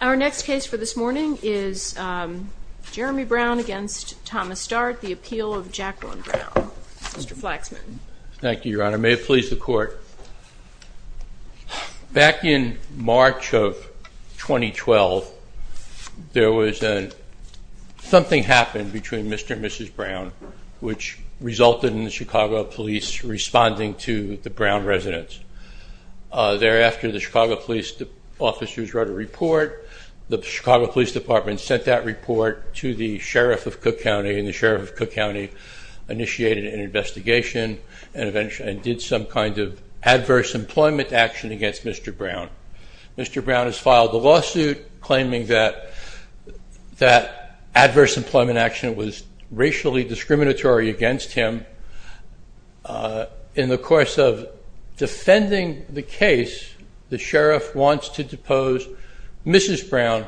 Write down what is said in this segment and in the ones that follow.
Our next case for this morning is Jeremy Brown v. Thomas Dart, the appeal of Jacqueline Brown. Mr. Flaxman. Thank you, Your Honor. May it please the Court. Back in March of 2012, something happened between Mr. and Mrs. Brown which resulted in the Chicago Police responding to the Brown residents. Thereafter, the Chicago Police officers wrote a report. The Chicago Police Department sent that report to the Sheriff of Cook County, and the Sheriff of Cook County initiated an investigation and did some kind of adverse employment action against Mr. Brown. Mr. Brown has filed a lawsuit claiming that adverse employment action was racially discriminatory against him. In the course of defending the case, the Sheriff wants to depose Mrs. Brown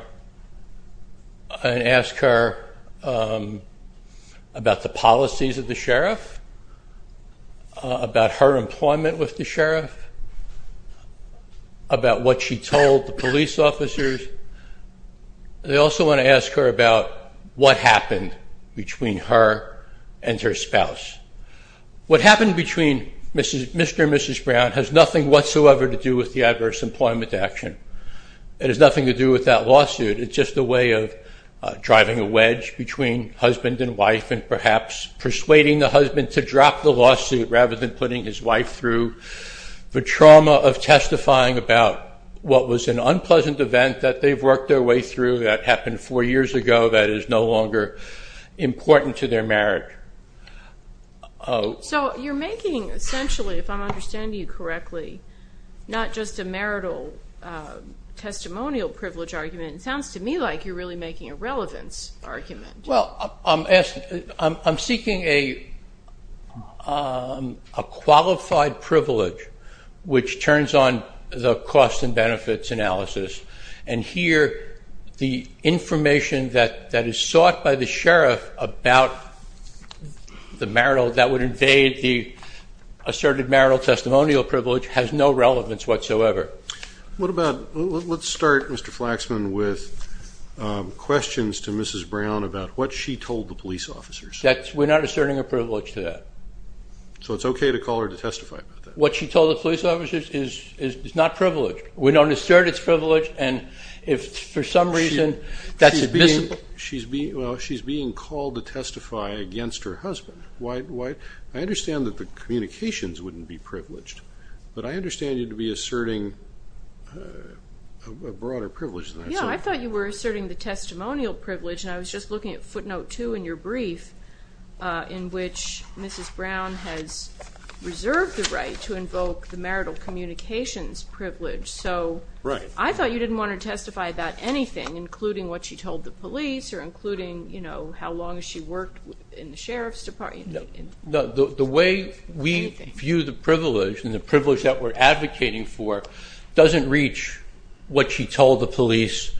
and ask her about the policies of the Sheriff, about her employment with the Sheriff, about what she told the police officers. They also want to ask her about what happened between her and her spouse. What happened between Mr. and Mrs. Brown has nothing whatsoever to do with the adverse employment action. It has nothing to do with that lawsuit. It's just a way of driving a wedge between husband and wife and perhaps persuading the husband to drop the lawsuit rather than putting his wife through the trauma of testifying about what was an unpleasant event that they've worked their way through that happened four years ago that is no longer important to their marriage. So you're making essentially, if I'm understanding you correctly, not just a marital testimonial privilege argument. It sounds to me like you're really making a relevance argument. Well, I'm seeking a qualified privilege which turns on the cost and benefits analysis. And here the information that is sought by the Sheriff about the marital, that would invade the asserted marital testimonial privilege has no relevance whatsoever. Let's start, Mr. Flaxman, with questions to Mrs. Brown about what she told the police officers. We're not asserting a privilege to that. So it's okay to call her to testify about that? What she told the police officers is not privilege. We don't assert it's privilege and if for some reason that's admissible. She's being called to testify against her husband. I understand that the communications wouldn't be privileged, but I understand you to be asserting a broader privilege than that. Yeah, I thought you were asserting the testimonial privilege, and I was just looking at footnote two in your brief in which Mrs. Brown has reserved the right to invoke the marital communications privilege. So I thought you didn't want to testify about anything, including what she told the police or including how long she worked in the Sheriff's Department. The way we view the privilege and the privilege that we're advocating for doesn't reach what she told the police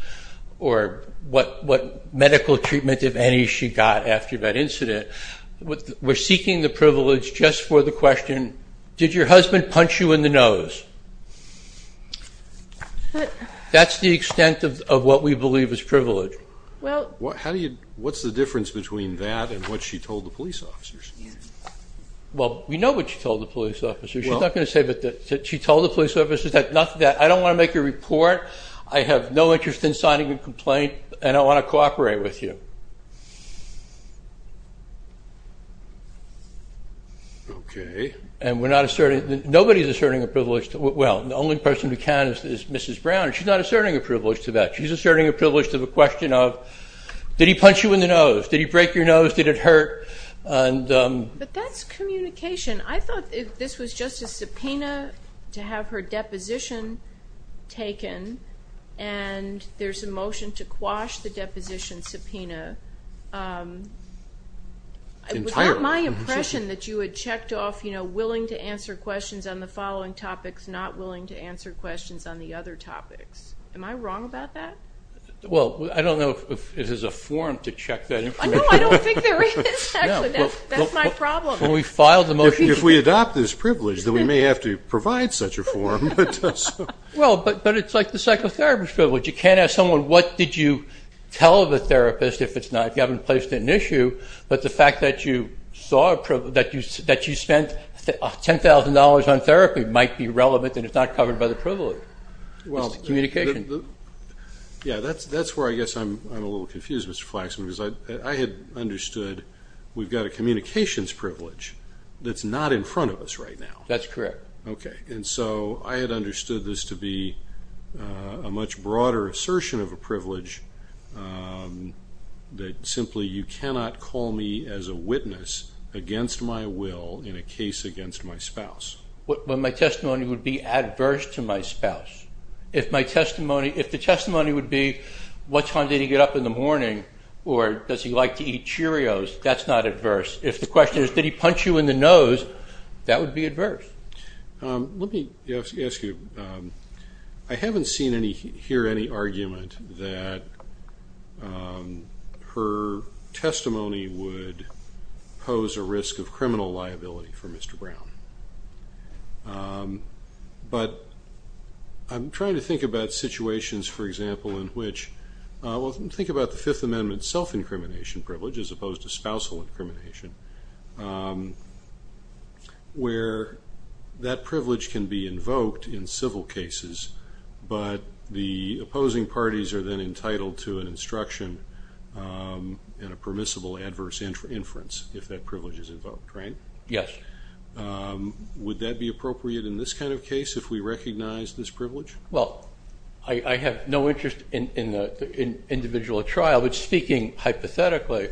or what medical treatment, if any, she got after that incident. We're seeking the privilege just for the question, did your husband punch you in the nose? That's the extent of what we believe is privilege. What's the difference between that and what she told the police officers? Well, we know what she told the police officers. She told the police officers that I don't want to make a report, I have no interest in signing a complaint, and I want to cooperate with you. Okay. And nobody is asserting a privilege. Well, the only person who can is Mrs. Brown, and she's not asserting a privilege to that. She's asserting a privilege to the question of, did he punch you in the nose? Did he break your nose? Did it hurt? But that's communication. I thought this was just a subpoena to have her deposition taken, and there's a motion to quash the deposition subpoena. It was not my impression that you had checked off, you know, willing to answer questions on the following topics, not willing to answer questions on the other topics. Am I wrong about that? Well, I don't know if there's a form to check that information. No, I don't think there is, actually. That's my problem. If we adopt this privilege, then we may have to provide such a form. Well, but it's like the psychotherapist privilege. You can't ask someone what did you tell the therapist if it's not, if you haven't placed an issue, but the fact that you spent $10,000 on therapy might be relevant and it's not covered by the privilege. It's communication. Yeah, that's where I guess I'm a little confused, Mr. Flaxman, because I had understood we've got a communications privilege that's not in front of us right now. That's correct. Okay, and so I had understood this to be a much broader assertion of a privilege that simply you cannot call me as a witness against my will in a case against my spouse. But my testimony would be adverse to my spouse. If my testimony, if the testimony would be what time did he get up in the morning or does he like to eat Cheerios, that's not adverse. If the question is did he punch you in the nose, that would be adverse. Let me ask you, I haven't seen here any argument that her testimony would pose a risk of criminal liability for Mr. Brown. But I'm trying to think about situations, for example, in which, well, think about the Fifth Amendment self-incrimination privilege as opposed to spousal incrimination, where that privilege can be invoked in civil cases, but the opposing parties are then entitled to an instruction and a permissible adverse inference if that privilege is invoked, right? Yes. Would that be appropriate in this kind of case if we recognize this privilege? Well, I have no interest in the individual trial, but speaking hypothetically,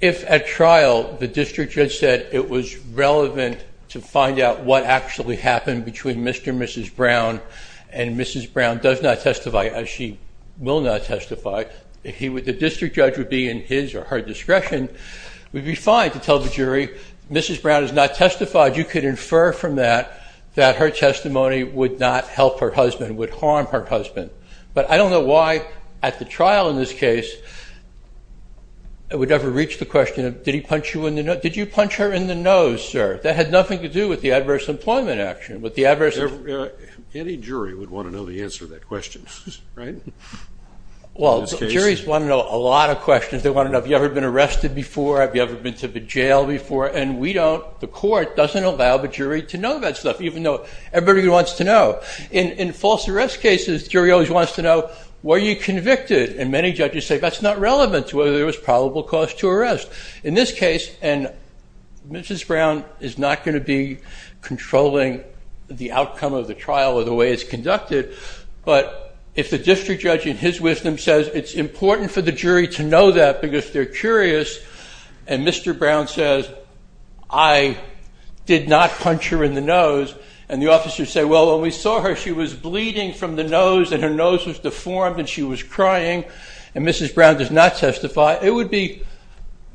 if at trial the district judge said it was relevant to find out what actually happened between Mr. and Mrs. Brown and Mrs. Brown does not testify as she will not testify, the district judge would be in his or her discretion, it would be fine to tell the jury Mrs. Brown has not testified. You could infer from that that her testimony would not help her husband, would harm her husband. But I don't know why at the trial in this case it would ever reach the question of, did he punch you in the nose? Did you punch her in the nose, sir? That had nothing to do with the adverse employment action. Any jury would want to know the answer to that question, right? Well, juries want to know a lot of questions. They want to know, have you ever been arrested before? Have you ever been to the jail before? And we don't, the court doesn't allow the jury to know that stuff, even though everybody wants to know. In false arrest cases, the jury always wants to know, were you convicted? And many judges say that's not relevant to whether there was probable cause to arrest. In this case, and Mrs. Brown is not going to be controlling the outcome of the trial or the way it's conducted, but if the district judge in his wisdom says it's important for the jury to know that because they're curious, and Mr. Brown says, I did not punch her in the nose, and the officers say, well, when we saw her, she was bleeding from the nose and her nose was deformed and she was crying, and Mrs. Brown does not testify, it would be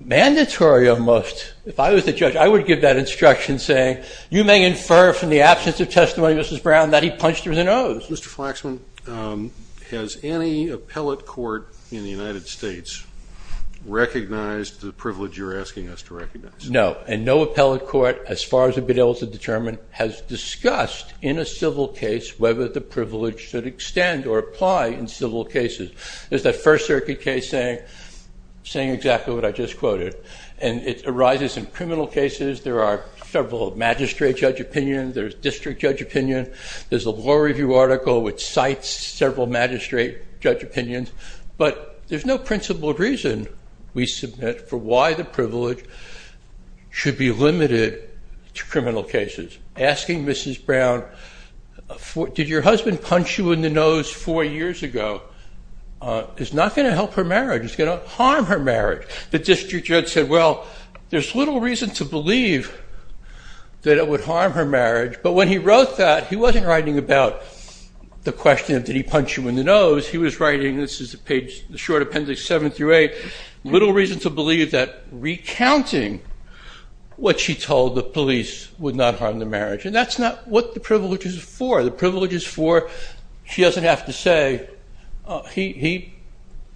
mandatory almost. If I was the judge, I would give that instruction saying, you may infer from the absence of testimony, Mrs. Brown, that he punched her in the nose. Mr. Flaxman, has any appellate court in the United States recognized the privilege you're asking us to recognize? No, and no appellate court, as far as I've been able to determine, has discussed in a civil case whether the privilege should extend or apply in civil cases. There's that First Circuit case saying exactly what I just quoted, and it arises in criminal cases, there are several magistrate judge opinions, there's district judge opinion, there's a law review article which cites several magistrate judge opinions, but there's no principled reason we submit for why the privilege should be limited to criminal cases. Asking Mrs. Brown, did your husband punch you in the nose four years ago, is not going to help her marriage, it's going to harm her marriage. The district judge said, well, there's little reason to believe that it would harm her marriage, but when he wrote that, he wasn't writing about the question of did he punch you in the nose, he was writing, this is the short appendix seven through eight, little reason to believe that recounting what she told the police would not harm the marriage, and that's not what the privilege is for. The privilege is for, she doesn't have to say, he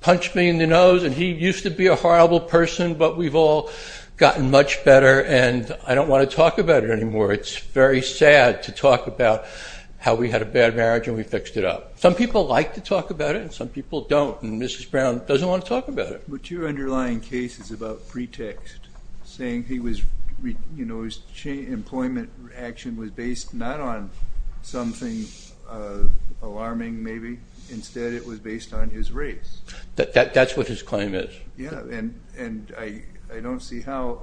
punched me in the nose and he used to be a horrible person, but we've all gotten much better and I don't want to talk about it anymore, it's very sad to talk about how we had a bad marriage and we fixed it up. Some people like to talk about it and some people don't, and Mrs. Brown doesn't want to talk about it. But your underlying case is about pretext, saying he was, his employment action was based not on something alarming maybe, instead it was based on his race. That's what his claim is. Yeah, and I don't see how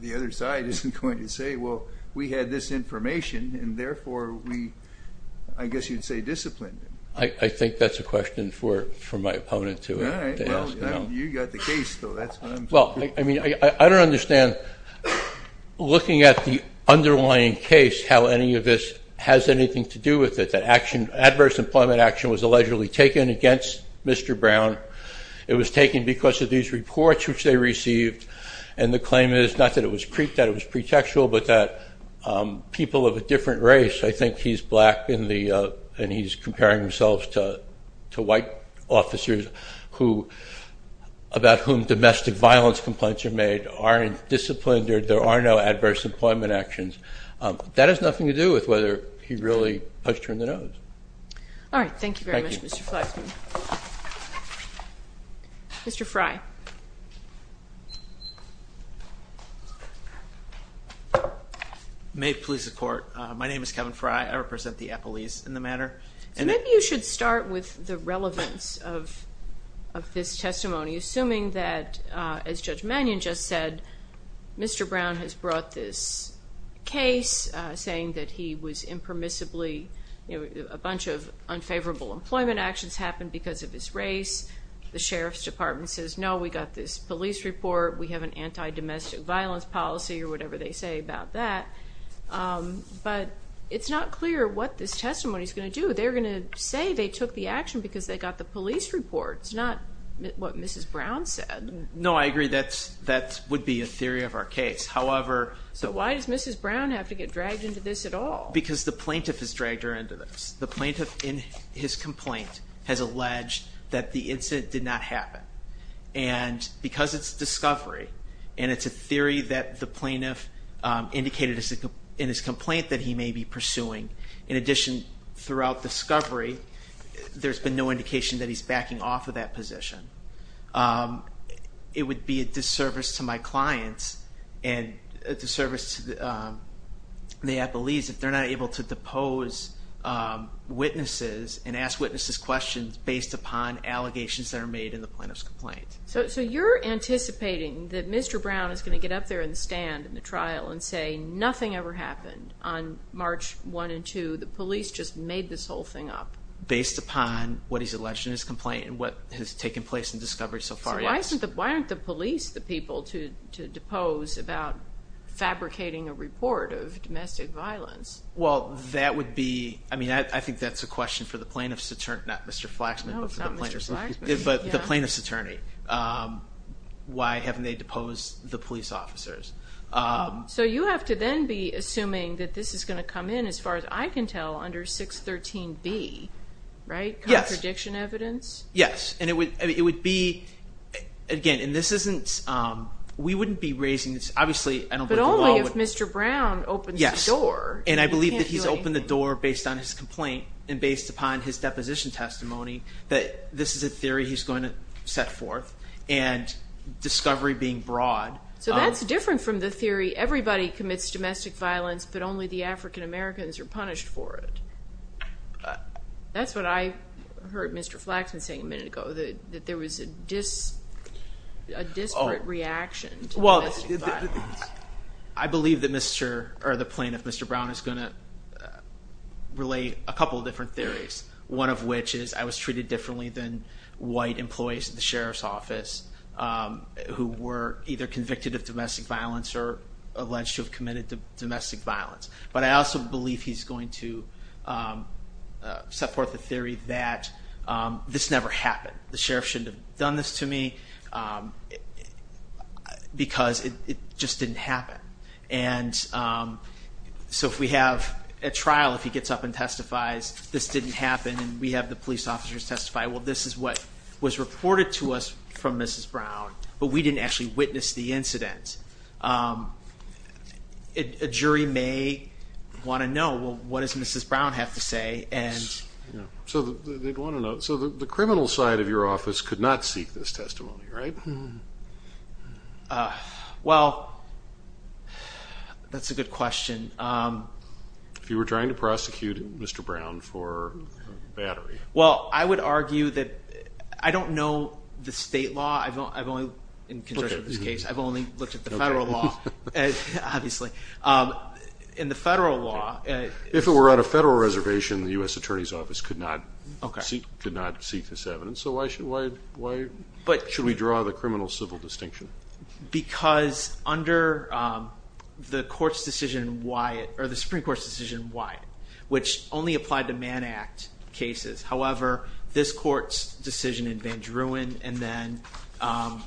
the other side isn't going to say, well, we had this information and therefore we, I guess you'd say disciplined him. I think that's a question for my opponent to ask. All right, well, you got the case though, that's what I'm saying. Well, I mean, I don't understand, looking at the underlying case, how any of this has anything to do with it, that adverse employment action was allegedly taken against Mr. Brown. It was taken because of these reports which they received and the claim is not that it was pretextual, but that people of a different race, I think he's black and he's comparing himself to white officers who, about whom domestic violence complaints are made, aren't disciplined, there are no adverse employment actions. That has nothing to do with whether he really punched her in the nose. All right, thank you very much, Mr. Flaxman. Mr. Frey. May it please the Court. My name is Kevin Frey. I represent the appellees in the matter. Maybe you should start with the relevance of this testimony, assuming that, as Judge Mannion just said, Mr. Brown has brought this case, saying that he was impermissibly, a bunch of unfavorable employment actions happened because of his race. The Sheriff's Department says, no, we got this police report. We have an anti-domestic violence policy or whatever they say about that. But it's not clear what this testimony is going to do. They're going to say they took the action because they got the police report. It's not what Mrs. Brown said. No, I agree. That would be a theory of our case. So why does Mrs. Brown have to get dragged into this at all? Because the plaintiff has dragged her into this. The plaintiff, in his complaint, has alleged that the incident did not happen. And because it's discovery, and it's a theory that the plaintiff indicated in his complaint that he may be pursuing, in addition, throughout discovery, there's been no indication that he's backing off of that position. It would be a disservice to my clients, and a disservice to the athletes if they're not able to depose witnesses and ask witnesses questions based upon allegations that are made in the plaintiff's complaint. So you're anticipating that Mr. Brown is going to get up there and stand in the trial and say nothing ever happened on March 1 and 2. The police just made this whole thing up. Based upon what he's alleged in his complaint and what has taken place in discovery so far, yes. So why aren't the police the people to depose about fabricating a report of domestic violence? Well, that would be, I mean, I think that's a question for the plaintiff's attorney, not Mr. Flaxman. No, it's not Mr. Flaxman. But the plaintiff's attorney. Why haven't they deposed the police officers? So you have to then be assuming that this is going to come in, as far as I can tell, under 613B, right? Yes. Contradiction evidence? Yes, and it would be, again, and this isn't, we wouldn't be raising this, obviously. But only if Mr. Brown opens the door. Yes, and I believe that he's opened the door based on his complaint and based upon his deposition testimony that this is a theory he's going to set forth, and discovery being broad. So that's different from the theory everybody commits domestic violence, but only the African-Americans are punished for it. That's what I heard Mr. Flaxman say a minute ago, that there was a disparate reaction to domestic violence. Well, I believe that Mr., or the plaintiff, Mr. Brown, is going to relate a couple of different theories, one of which is I was treated differently than white employees at the sheriff's office who were either convicted of domestic violence or alleged to have committed domestic violence. But I also believe he's going to set forth the theory that this never happened. The sheriff shouldn't have done this to me because it just didn't happen. And so if we have a trial, if he gets up and testifies this didn't happen and we have the police officers testify, well, this is what was reported to us from Mrs. Brown, but we didn't actually witness the incident. A jury may want to know, well, what does Mrs. Brown have to say? So the criminal side of your office could not seek this testimony, right? Well, that's a good question. If you were trying to prosecute Mr. Brown for battery. Well, I would argue that I don't know the state law. I've only, in conjunction with this case, I've only looked at the federal law, obviously. In the federal law. If it were on a federal reservation, the U.S. Attorney's Office could not seek this evidence. So why should we draw the criminal-civil distinction? Because under the Supreme Court's decision in Wyatt, which only applied to Man Act cases, however, this court's decision in Van Druin, and then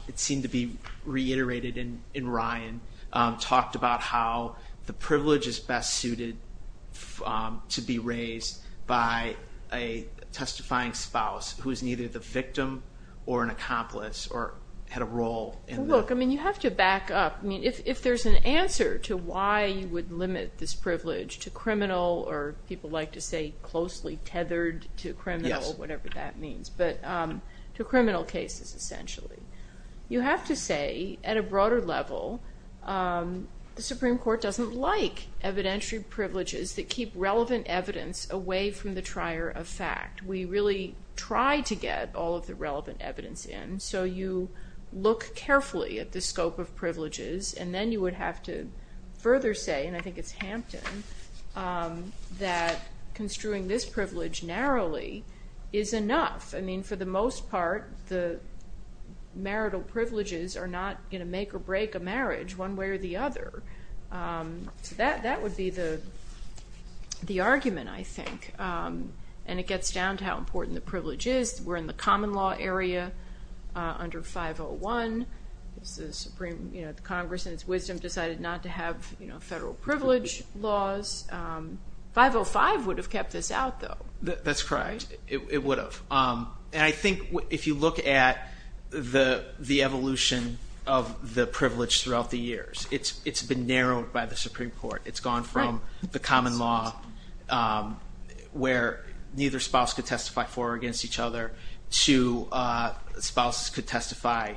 it seemed to be reiterated in Ryan, talked about how the privilege is best suited to be raised by a testifying spouse who is neither the victim or an accomplice or had a role in that. Well, look, I mean, you have to back up. I mean, if there's an answer to why you would limit this privilege to criminal or people like to say closely tethered to criminal or whatever that means, but to criminal cases, essentially. You have to say, at a broader level, the Supreme Court doesn't like evidentiary privileges that keep relevant evidence away from the trier of fact. We really try to get all of the relevant evidence in, so you look carefully at the scope of privileges, and then you would have to further say, and I think it's Hampton, that construing this privilege narrowly is enough. I mean, for the most part, the marital privileges are not going to make or break a marriage one way or the other. So that would be the argument, I think. And it gets down to how important the privilege is. We're in the common law area under 501. The Congress, in its wisdom, decided not to have federal privilege laws. 505 would have kept this out, though. That's correct. It would have. And I think if you look at the evolution of the privilege throughout the years, it's been narrowed by the Supreme Court. It's gone from the common law where neither spouse could testify for or against each other to spouses could testify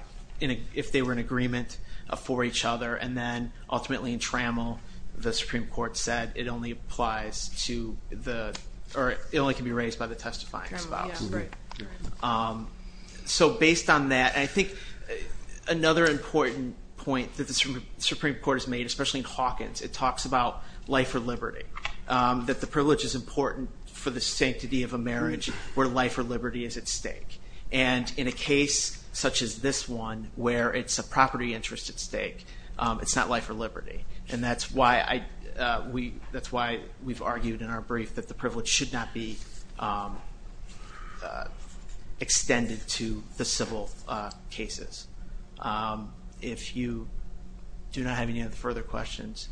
if they were in agreement for each other, and then ultimately in Trammell, the Supreme Court said it only applies to the or it only can be raised by the testifying spouse. So based on that, I think another important point that the Supreme Court has made, especially in Hawkins, it talks about life or liberty, that the privilege is important for the sanctity of a marriage where life or liberty is at stake. And in a case such as this one where it's a property interest at stake, it's not life or liberty. And that's why we've argued in our brief that the privilege should not be extended to the civil cases. If you do not have any further questions.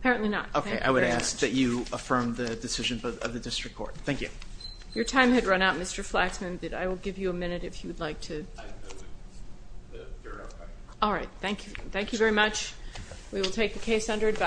Apparently not. Okay. I would ask that you affirm the decision of the district court. Thank you. Your time had run out, Mr. Flaxman. I will give you a minute if you would like to. All right. Thank you. Thank you very much. We will take the case under advice.